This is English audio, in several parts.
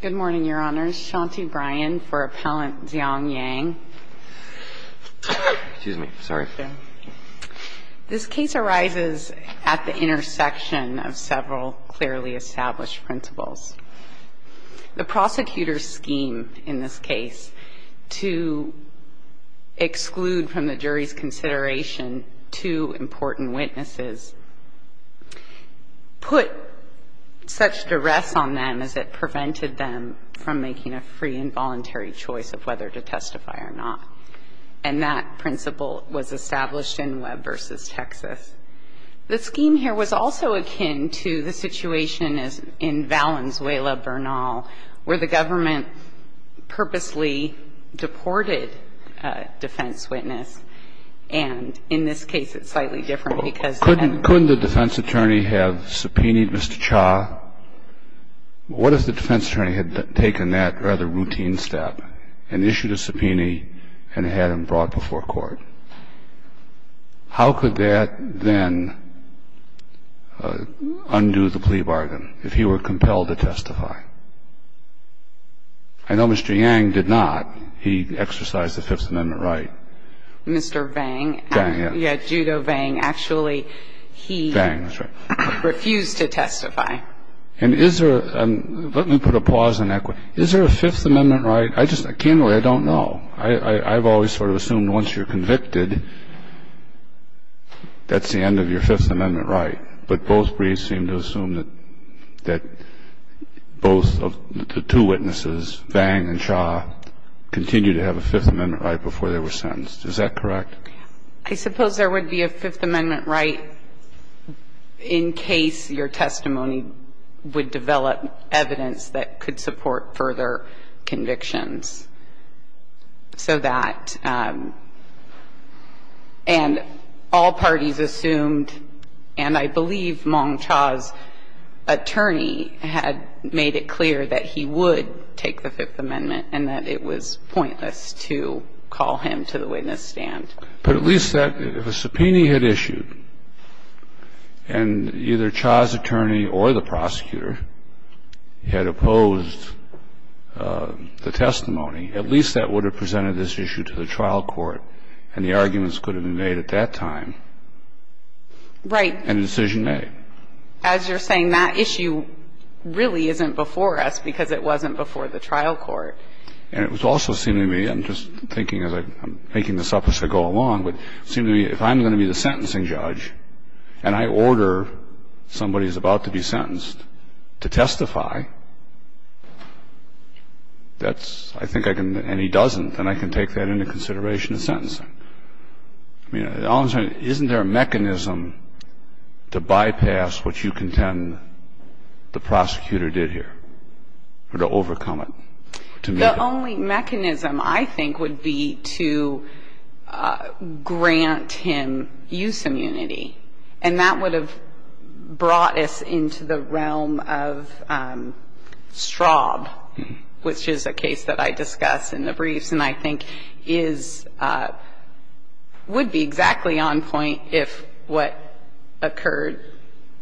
Good morning, Your Honors. Shanti Bryan for Appellant Ziong Yang. Excuse me. Sorry. This case arises at the intersection of several clearly established principles. The prosecutor's scheme in this case to exclude from the jury's consideration two important witnesses put such duress on them as it prevented them from making a free and voluntary choice of whether to testify or not. And that principle was established in Webb v. Texas. The scheme here was also akin to the situation in Valenzuela, Bernal, where the government purposely deported a defense witness. And in this case, it's slightly different because then the defense attorney had subpoenaed Mr. Cha. What if the defense attorney had taken that rather routine step and issued a subpoena and had him brought before court? How could that then undo the plea bargain if he were compelled to testify? I know Mr. Yang did not. He exercised the Fifth Amendment right. Mr. Vang. Vang, yeah. Yeah, Judo Vang. Actually, he refused to testify. And is there a – let me put a pause in that question. Is there a Fifth Amendment right? I just – I can't really – I don't know. I've always sort of assumed once you're convicted, that's the end of your Fifth Amendment right. But both briefs seem to assume that both of the two witnesses, Vang and Cha, continue to have a Fifth Amendment right before they were sentenced. Is that correct? I suppose there would be a Fifth Amendment right in case your testimony would develop evidence that could support further convictions. So that – and all parties assumed, and I believe Mong Cha's attorney had made it clear that he would take the Fifth Amendment and that it was pointless to call him to the witness stand. But at least that – if a subpoena had issued and either Cha's attorney or the prosecutor had opposed the testimony, at least that would have presented this issue to the trial court and the arguments could have been made at that time. Right. And a decision made. As you're saying, that issue really isn't before us because it wasn't before the trial court. And it was also seeming to me – I'm just thinking as I – I'm making this up as I go along, but it seemed to me if I'm going to be the sentencing judge and I order somebody who's about to be sentenced to testify, that's – I think I can – and he doesn't, then I can take that into consideration in sentencing. I mean, all I'm saying, isn't there a mechanism to bypass what you contend the prosecutor did here or to overcome it? The only mechanism I think would be to grant him use immunity. And that would have brought us into the realm of Straub, which is a case that I discuss in the briefs and I think is – would be exactly on point if what occurred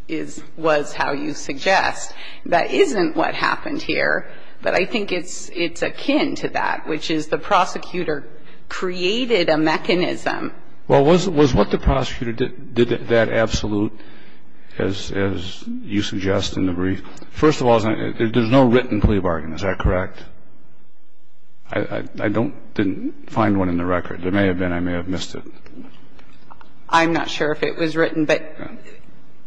is – was how you suggest. That isn't what happened here, but I think it's akin to that, which is the prosecutor created a mechanism. Well, was what the prosecutor did that absolute as you suggest in the brief? First of all, there's no written plea bargain. Is that correct? I don't – didn't find one in the record. There may have been. I may have missed it. I'm not sure if it was written, but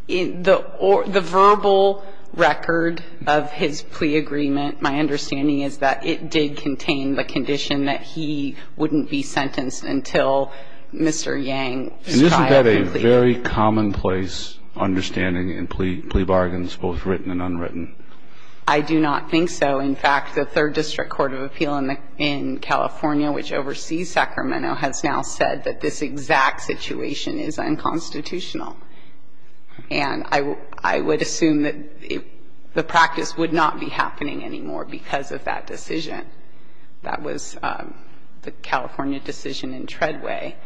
the verbal record of his plea agreement, my understanding is that it did contain the condition that he wouldn't be sentenced until Mr. Yang's trial. And isn't that a very commonplace understanding in plea bargains, both written and unwritten? I do not think so. In fact, the Third District Court of Appeal in California, which oversees Sacramento, has now said that this exact situation is unconstitutional. And I would assume that the practice would not be happening anymore because of that decision. That was the California decision in Treadway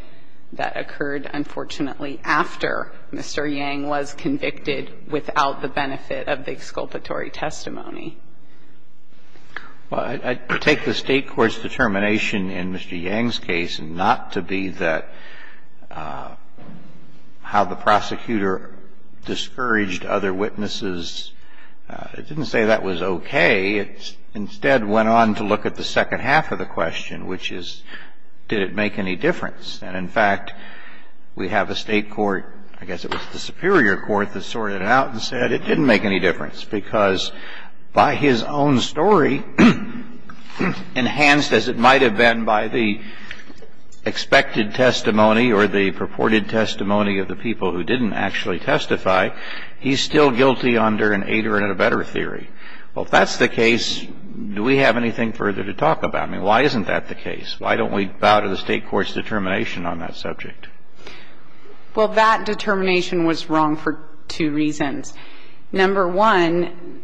that occurred, unfortunately, after Mr. Yang was convicted without the benefit of the exculpatory testimony. Well, I take the State court's determination in Mr. Yang's case not to be that how the prosecutor discouraged other witnesses. It didn't say that was okay. It instead went on to look at the second half of the question, which is did it make any difference. And in fact, we have a State court, I guess it was the Superior Court that sorted it out and said it didn't make any difference because by his own story, enhanced as it might have been by the expected testimony or the purported testimony of the people who didn't actually testify, he's still guilty under an eight or a better theory. Well, if that's the case, do we have anything further to talk about? I mean, why isn't that the case? Why don't we bow to the State court's determination on that subject? Well, that determination was wrong for two reasons. Number one,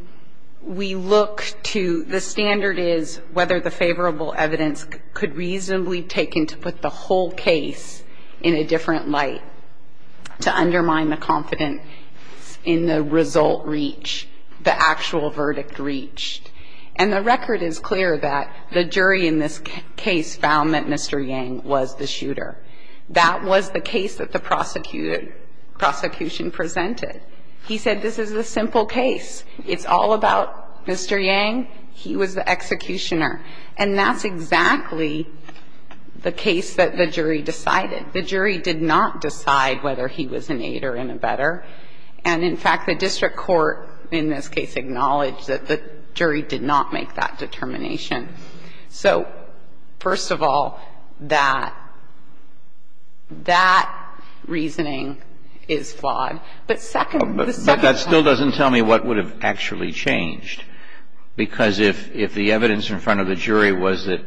we look to the standard is whether the favorable evidence could reasonably be taken to put the whole case in a different light to undermine the confidence in the result reach, the actual verdict reach. And the record is clear that the jury in this case found that Mr. Yang was the shooter. That was the case that the prosecution presented. He said this is a simple case. It's all about Mr. Yang. He was the executioner. And that's exactly the case that the jury decided. The jury did not decide whether he was an eight or in a better. And in fact, the district court in this case acknowledged that the jury did not make that determination. So, first of all, that, that reasoning is flawed. But second, the second part. But that still doesn't tell me what would have actually changed. Because if the evidence in front of the jury was that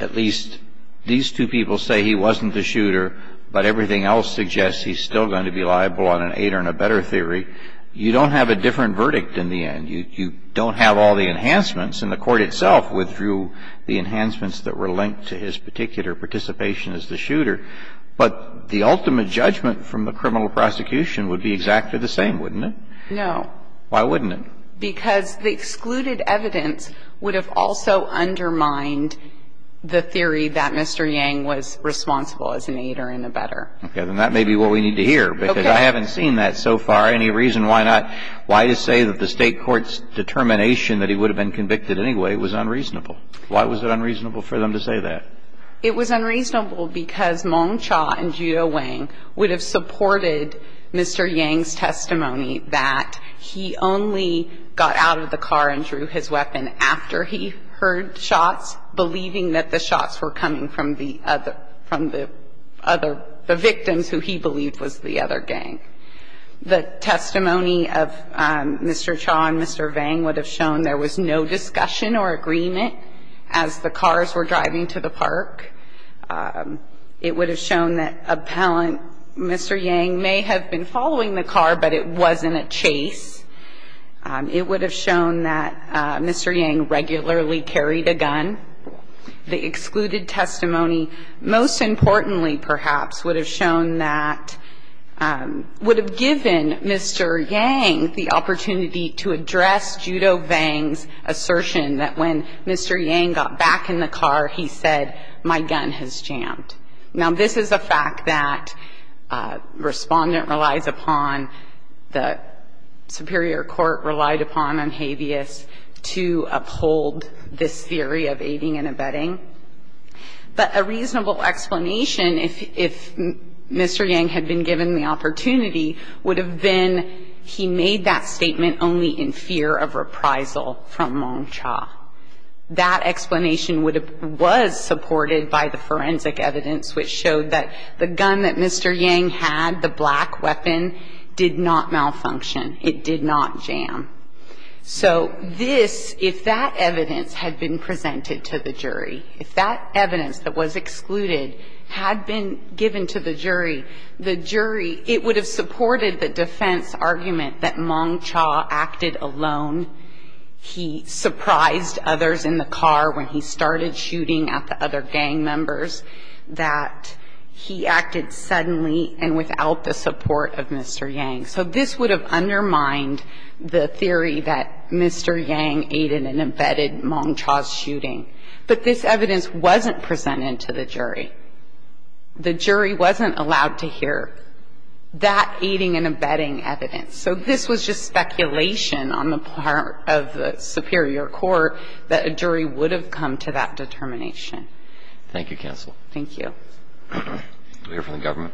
at least these two people say he wasn't the shooter, but everything else suggests he's still going to be liable on an eight or in a better theory, you don't have a different verdict in the end. You don't have all the enhancements. And the court itself withdrew the enhancements that were linked to his particular participation as the shooter. But the ultimate judgment from the criminal prosecution would be exactly the same, wouldn't it? No. Why wouldn't it? Because the excluded evidence would have also undermined the theory that Mr. Yang was responsible as an eight or in a better. Okay. Then that may be what we need to hear. Okay. Because I haven't seen that so far. Any reason why not? Why to say that the State court's determination that he would have been convicted anyway was unreasonable? Why was it unreasonable for them to say that? It was unreasonable because Meng Cha and Judo Wang would have supported Mr. Yang's testimony that he only got out of the car and drew his weapon after he heard shots, believing that the shots were coming from the other, from the other, the victims who he believed was the other gang. The testimony of Mr. Cha and Mr. Wang would have shown there was no discussion or agreement as the cars were driving to the park. It would have shown that appellant Mr. Yang may have been following the car but it wasn't a chase. It would have shown that Mr. Yang regularly carried a gun. The excluded testimony most importantly perhaps would have shown that, would have given Mr. Yang the opportunity to address Judo Wang's assertion that when Mr. Yang got back in the car he said, my gun has jammed. Now this is a fact that respondent relies upon, the superior court relied upon on habeas to uphold this theory of aiding and abetting. But a reasonable explanation if Mr. Yang had been given the opportunity would have been he made that statement only in fear of reprisal from Wang Cha. That explanation would have, was supported by the forensic evidence which showed that the gun that Mr. Yang had, the black weapon, did not malfunction. It did not jam. So this, if that evidence had been presented to the jury, if that evidence that was excluded had been given to the jury, the jury, it would have supported the defense argument that Wang Cha acted alone. He surprised others in the car when he started shooting at the other gang members, that he acted suddenly and without the support of Mr. Yang. So this would have undermined the theory that Mr. Yang aided and abetted Wang Cha's shooting. But this evidence wasn't presented to the jury. The jury wasn't allowed to hear that aiding and abetting evidence. So this was just speculation on the part of the superior court that a jury would have come to that determination. Roberts. Thank you, counsel. Thank you. We'll hear from the government.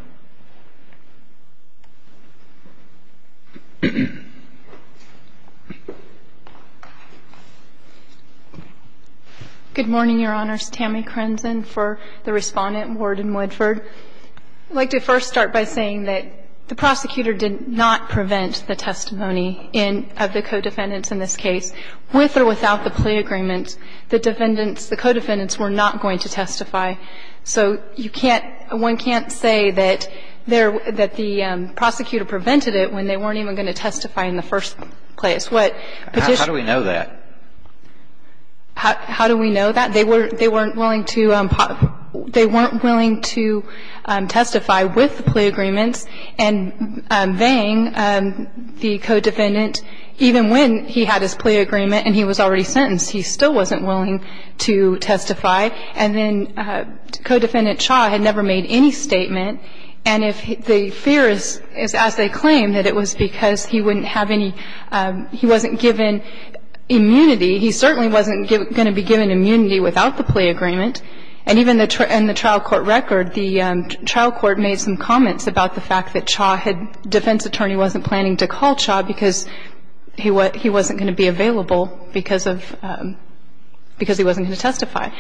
Good morning, Your Honors. I would also like to thank the defense's representative, Judge Tammi Krenzen, for the Respondent, Warden Woodford. I'd like to first start by saying that the prosecutor did not prevent the testimony of the co-defendants in this case with or without the plea agreement. The defendants — the co-defendants were not going to testify. So you can't — one can't say that there — that the prosecutor prevented it when they weren't even going to testify in the first place. What Petitioner — How do we know that? How do we know that? They weren't willing to testify with the plea agreements, and Vang, the co-defendant, even when he had his plea agreement and he was already sentenced, he still wasn't willing to testify. And then co-defendant Cha had never made any statement, and if the fear is, as they claim, that it was because he wouldn't have any — he wasn't given immunity. He certainly wasn't going to be given immunity without the plea agreement. And even in the trial court record, the trial court made some comments about the fact that Cha had — defense attorney wasn't planning to call Cha because he wasn't going to be available because of — because he wasn't going to testify.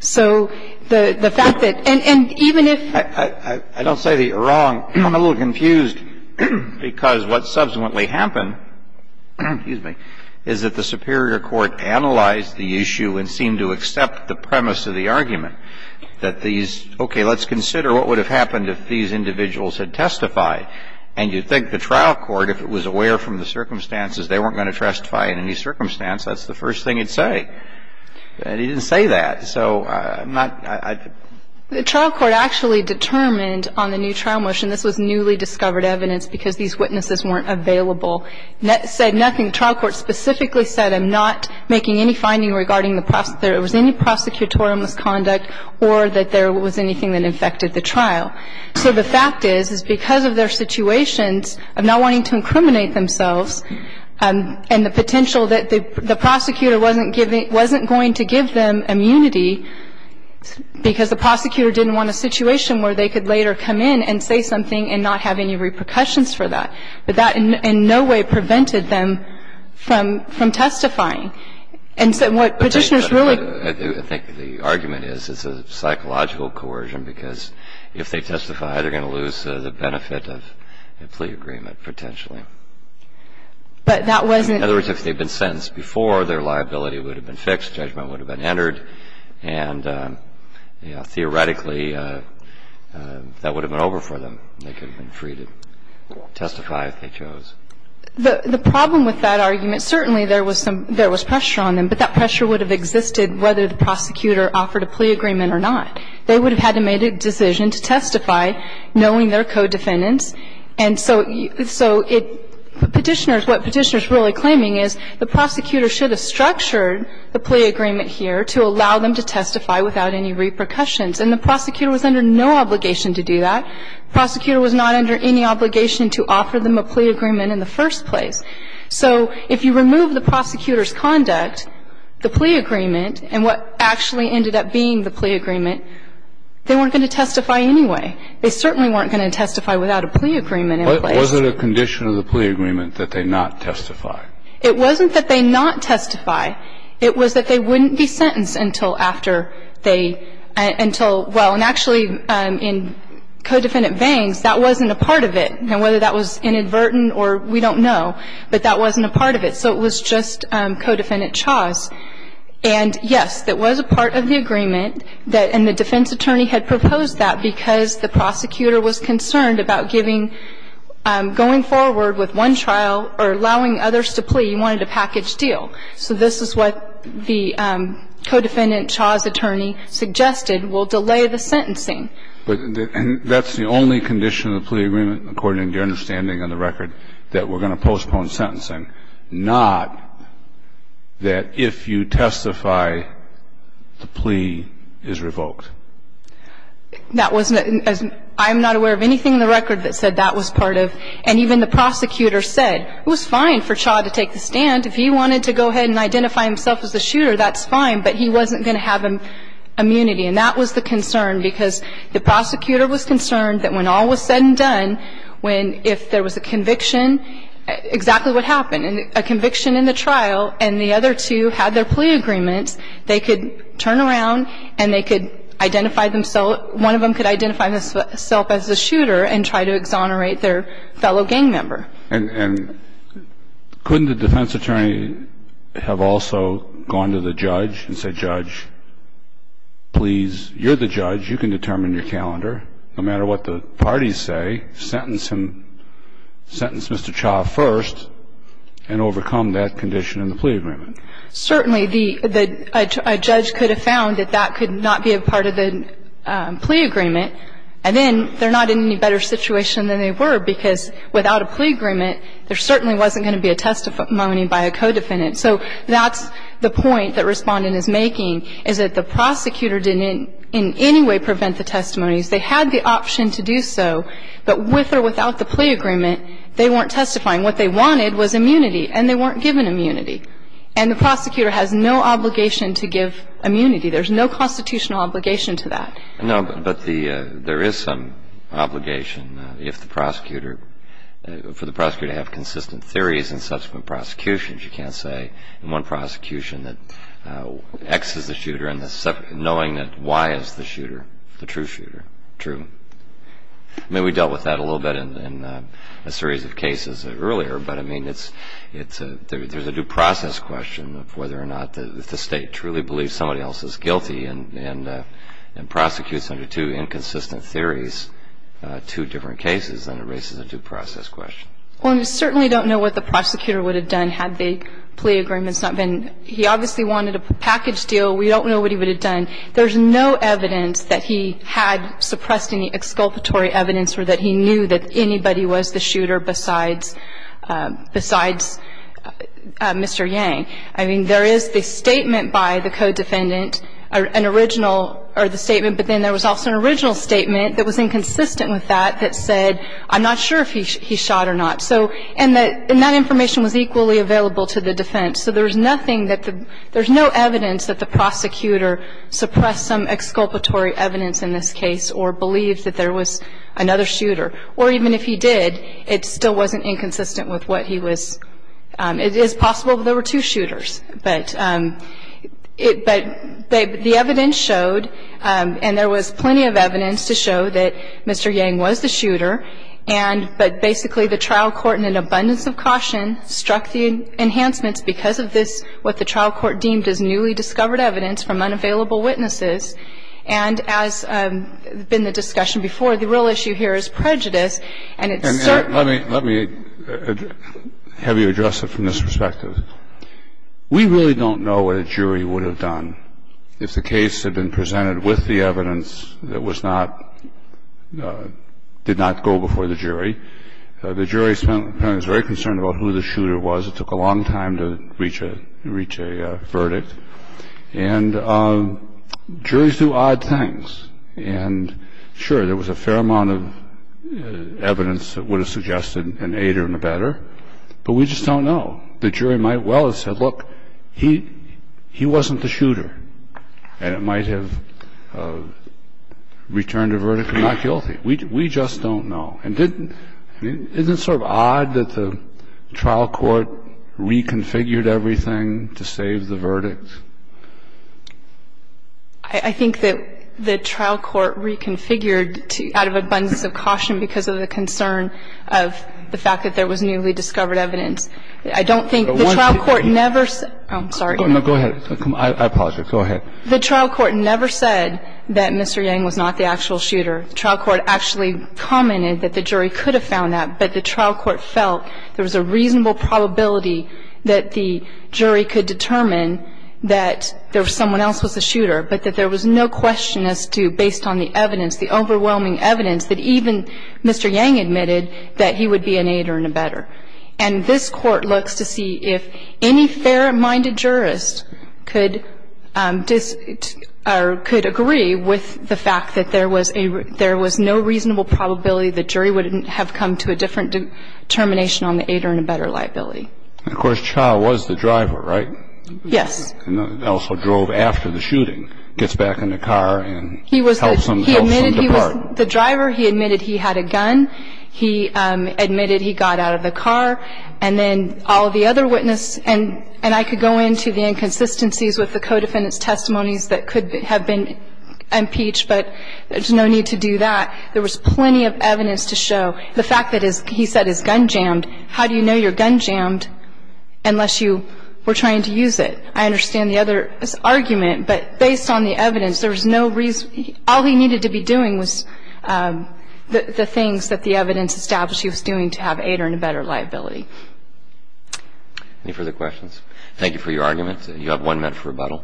So the fact that — and even if — I don't say that you're wrong. I'm a little confused because what subsequently happened — excuse me — is that the superior court analyzed the issue and seemed to accept the premise of the argument that these — okay, let's consider what would have happened if these individuals had testified. And you'd think the trial court, if it was aware from the circumstances they weren't going to testify in any circumstance, that's the first thing it'd say. But it didn't say that. So I'm not — The trial court actually determined on the new trial motion — this was newly discovered evidence because these witnesses weren't available — said nothing. The trial court specifically said, I'm not making any finding regarding the — there was any prosecutorial misconduct or that there was anything that infected the trial. So the fact is, is because of their situations of not wanting to incriminate themselves and the potential that the prosecutor wasn't giving — wasn't going to give them immunity because the prosecutor didn't want a situation where they could later come in and say something and not have any repercussions for that. But that in no way prevented them from testifying. And so what Petitioners really — I think the argument is it's a psychological coercion because if they testify, they're going to lose the benefit of a plea agreement, potentially. But that wasn't — In other words, if they'd been sentenced before, their liability would have been fixed, judgment would have been entered, and, you know, theoretically, that would have been over for them. They could have been free to testify if they chose. The problem with that argument, certainly there was some — there was pressure on them, but that pressure would have existed whether the prosecutor offered a plea agreement or not. They would have had to make a decision to testify, knowing their co-defendants. And so it — Petitioners — what Petitioners really claiming is the prosecutor should have structured the plea agreement here to allow them to testify without any repercussions. And the prosecutor was under no obligation to do that. The prosecutor was not under any obligation to offer them a plea agreement in the first place. So if you remove the prosecutor's conduct, the plea agreement, and what actually ended up being the plea agreement, they weren't going to testify anyway. They certainly weren't going to testify without a plea agreement in place. Kennedy. Was it a condition of the plea agreement that they not testify? It wasn't that they not testify. It was that they wouldn't be sentenced until after they — until — well, and actually, in co-defendant veins, that wasn't a part of it. Now, whether that was inadvertent or — we don't know, but that wasn't a part of it. So it was just co-defendant chas. And, yes, that was a part of the agreement that — and the defense attorney had proposed that because the prosecutor was concerned about giving — going forward with one trial or allowing others to plea, he wanted a package deal. So this is what the co-defendant chas attorney suggested, we'll delay the sentencing. But — and that's the only condition of the plea agreement, according to your understanding on the record, that we're going to postpone sentencing, not that if you testify, the plea is revoked. That wasn't — I'm not aware of anything in the record that said that was part of — and even the prosecutor said it was fine for Chas to take the stand. If he wanted to go ahead and identify himself as the shooter, that's fine, but he wasn't going to have immunity. And that was the concern, because the prosecutor was concerned that when all was said and done, when — if there was a conviction, exactly what happened, a conviction in the trial and the other two had their plea agreements, they could turn around and they could identify themselves — one of them could identify himself as the shooter and try to exonerate their fellow gang member. And couldn't the defense attorney have also gone to the judge and said, Judge, please, you're the judge, you can determine your calendar, no matter what the parties say, sentence him — sentence Mr. Chas first and overcome that condition in the plea agreement? Certainly, the — a judge could have found that that could not be a part of the plea agreement. And then they're not in any better situation than they were, because without a plea agreement, there certainly wasn't going to be a testimony by a co-defendant. So that's the point that Respondent is making, is that the prosecutor didn't in any way prevent the testimonies. They had the option to do so, but with or without the plea agreement, they weren't testifying. What they wanted was immunity, and they weren't given immunity. And the prosecutor has no obligation to give immunity. There's no constitutional obligation to that. No, but the — there is some obligation if the prosecutor — for the prosecutor to have consistent theories in subsequent prosecutions. You can't say in one prosecution that X is the shooter and the — knowing that Y is the shooter, the true shooter, true. I mean, we dealt with that a little bit in a series of cases earlier, but, I mean, it's a — there's a due process question of whether or not the State truly believes somebody else is guilty and prosecutes under two inconsistent theories, two different cases, and it raises a due process question. Well, and we certainly don't know what the prosecutor would have done had the plea agreement not been — he obviously wanted a package deal. We don't know what he would have done. There's no evidence that he had suppressed any exculpatory evidence or that he knew that anybody was the shooter besides — besides Mr. Yang. I mean, there is the statement by the co-defendant, an original — or the statement, but then there was also an original statement that was inconsistent with that that said, I'm not sure if he shot or not. So — and that information was equally available to the defense. So there's nothing that the — there's no evidence that the prosecutor suppressed some exculpatory evidence in this case or believed that there was another shooter or even if he did, it still wasn't inconsistent with what he was — it is possible that there were two shooters, but it — but the evidence showed, and there was plenty of evidence to show that Mr. Yang was the shooter, and — but basically, the trial court, in an abundance of caution, struck the enhancements because of this — what the trial court deemed as newly discovered evidence from unavailable witnesses. And as has been the discussion before, the real issue here is prejudice, and it's certain — And let me — let me have you address it from this perspective. We really don't know what a jury would have done if the case had been presented with the evidence that was not — did not go before the jury. The jury spent — was very concerned about who the shooter was. It took a long time to reach a — reach a verdict. And juries do odd things, and, sure, there was a fair amount of evidence that would have suggested an aider and abetter, but we just don't know. The jury might well have said, look, he — he wasn't the shooter, and it might have returned a verdict of not guilty. We — we just don't know. And didn't — isn't it sort of odd that the trial court reconfigured everything to save the verdict? I — I think that the trial court reconfigured out of abundance of caution because of the concern of the fact that there was newly discovered evidence. I don't think the trial court never said — Oh, I'm sorry. No, go ahead. I apologize. Go ahead. The trial court never said that Mr. Yang was not the actual shooter. The trial court actually commented that the jury could have found that, but the trial court felt there was a reasonable probability that the jury could determine that there — someone else was the shooter, but that there was no question as to, based on the evidence, the overwhelming evidence, that even Mr. Yang admitted that he would be an aider and abetter. And this Court looks to see if any fair-minded jurist could disagree — or could agree with the fact that there was a — there was no reasonable probability the jury would have come to a different determination on the aider and abetter liability. And, of course, Cha was the driver, right? Yes. And also drove after the shooting, gets back in the car and helps him — He was the — he admitted he was the driver. He admitted he had a gun. He admitted he got out of the car. And then all of the other witnesses — and I could go into the inconsistencies with the co-defendant's testimonies that could have been impeached, but there's no need to do that. There was plenty of evidence to show the fact that his — he said his gun jammed. How do you know your gun jammed unless you were trying to use it? I understand the other argument, but based on the evidence, there was no reason — all he needed to be doing was the things that the evidence established he was doing to have aider and abetter liability. Any further questions? Thank you for your arguments. You have one minute for rebuttal.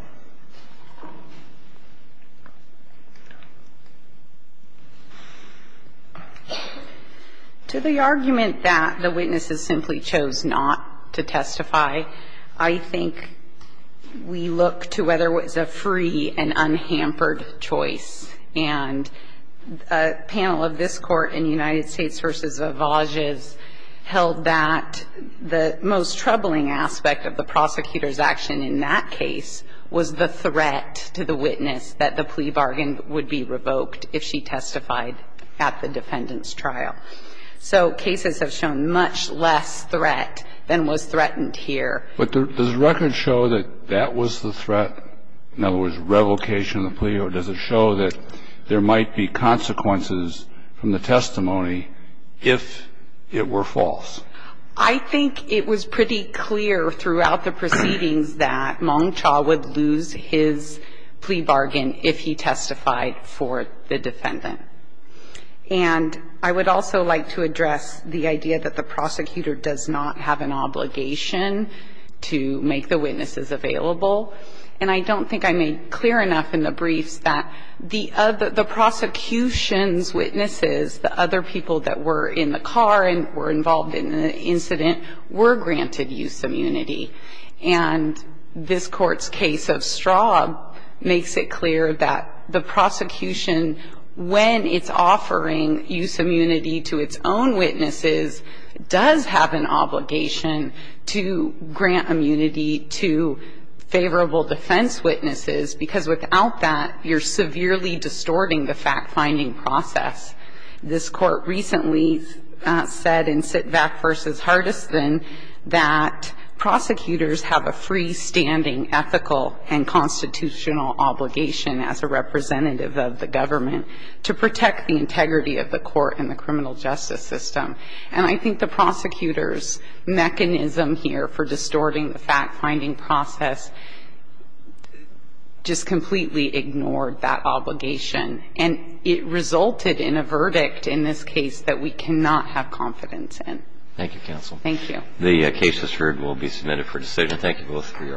To the argument that the witnesses simply chose not to testify, I think we look to whether it was a free and unhampered choice. And a panel of this Court in United States v. Avages held that the most troubling aspect of the prosecutor's action in that case was the threat to the witness that the plea bargain would be revoked if she testified at the defendant's trial. So cases have shown much less threat than was threatened here. But does the record show that that was the threat? In other words, revocation of the plea? Or does it show that there might be consequences from the testimony if it were false? I think it was pretty clear throughout the proceedings that Mong Chaw would lose his plea bargain if he testified for the defendant. And I would also like to address the idea that the prosecutor does not have an obligation to make the witnesses available. And I don't think I made clear enough in the briefs that the prosecution's case of Straub makes it clear that the prosecution, when it's offering use immunity to its own witnesses, does have an obligation to grant immunity to favorable defense witnesses, because without that, you're severely distorting the fact-finding process. This Court recently said in Sitvak v. Hardison that prosecutors have a freestanding ethical and constitutional obligation as a representative of the government to protect the integrity of the court and the criminal justice system. And I think the prosecutor's mechanism here for distorting the fact-finding process just completely ignored that obligation. And it resulted in a verdict in this case that we cannot have confidence in. Thank you, counsel. Thank you. The case has heard, will be submitted for decision. Thank you both for your arguments.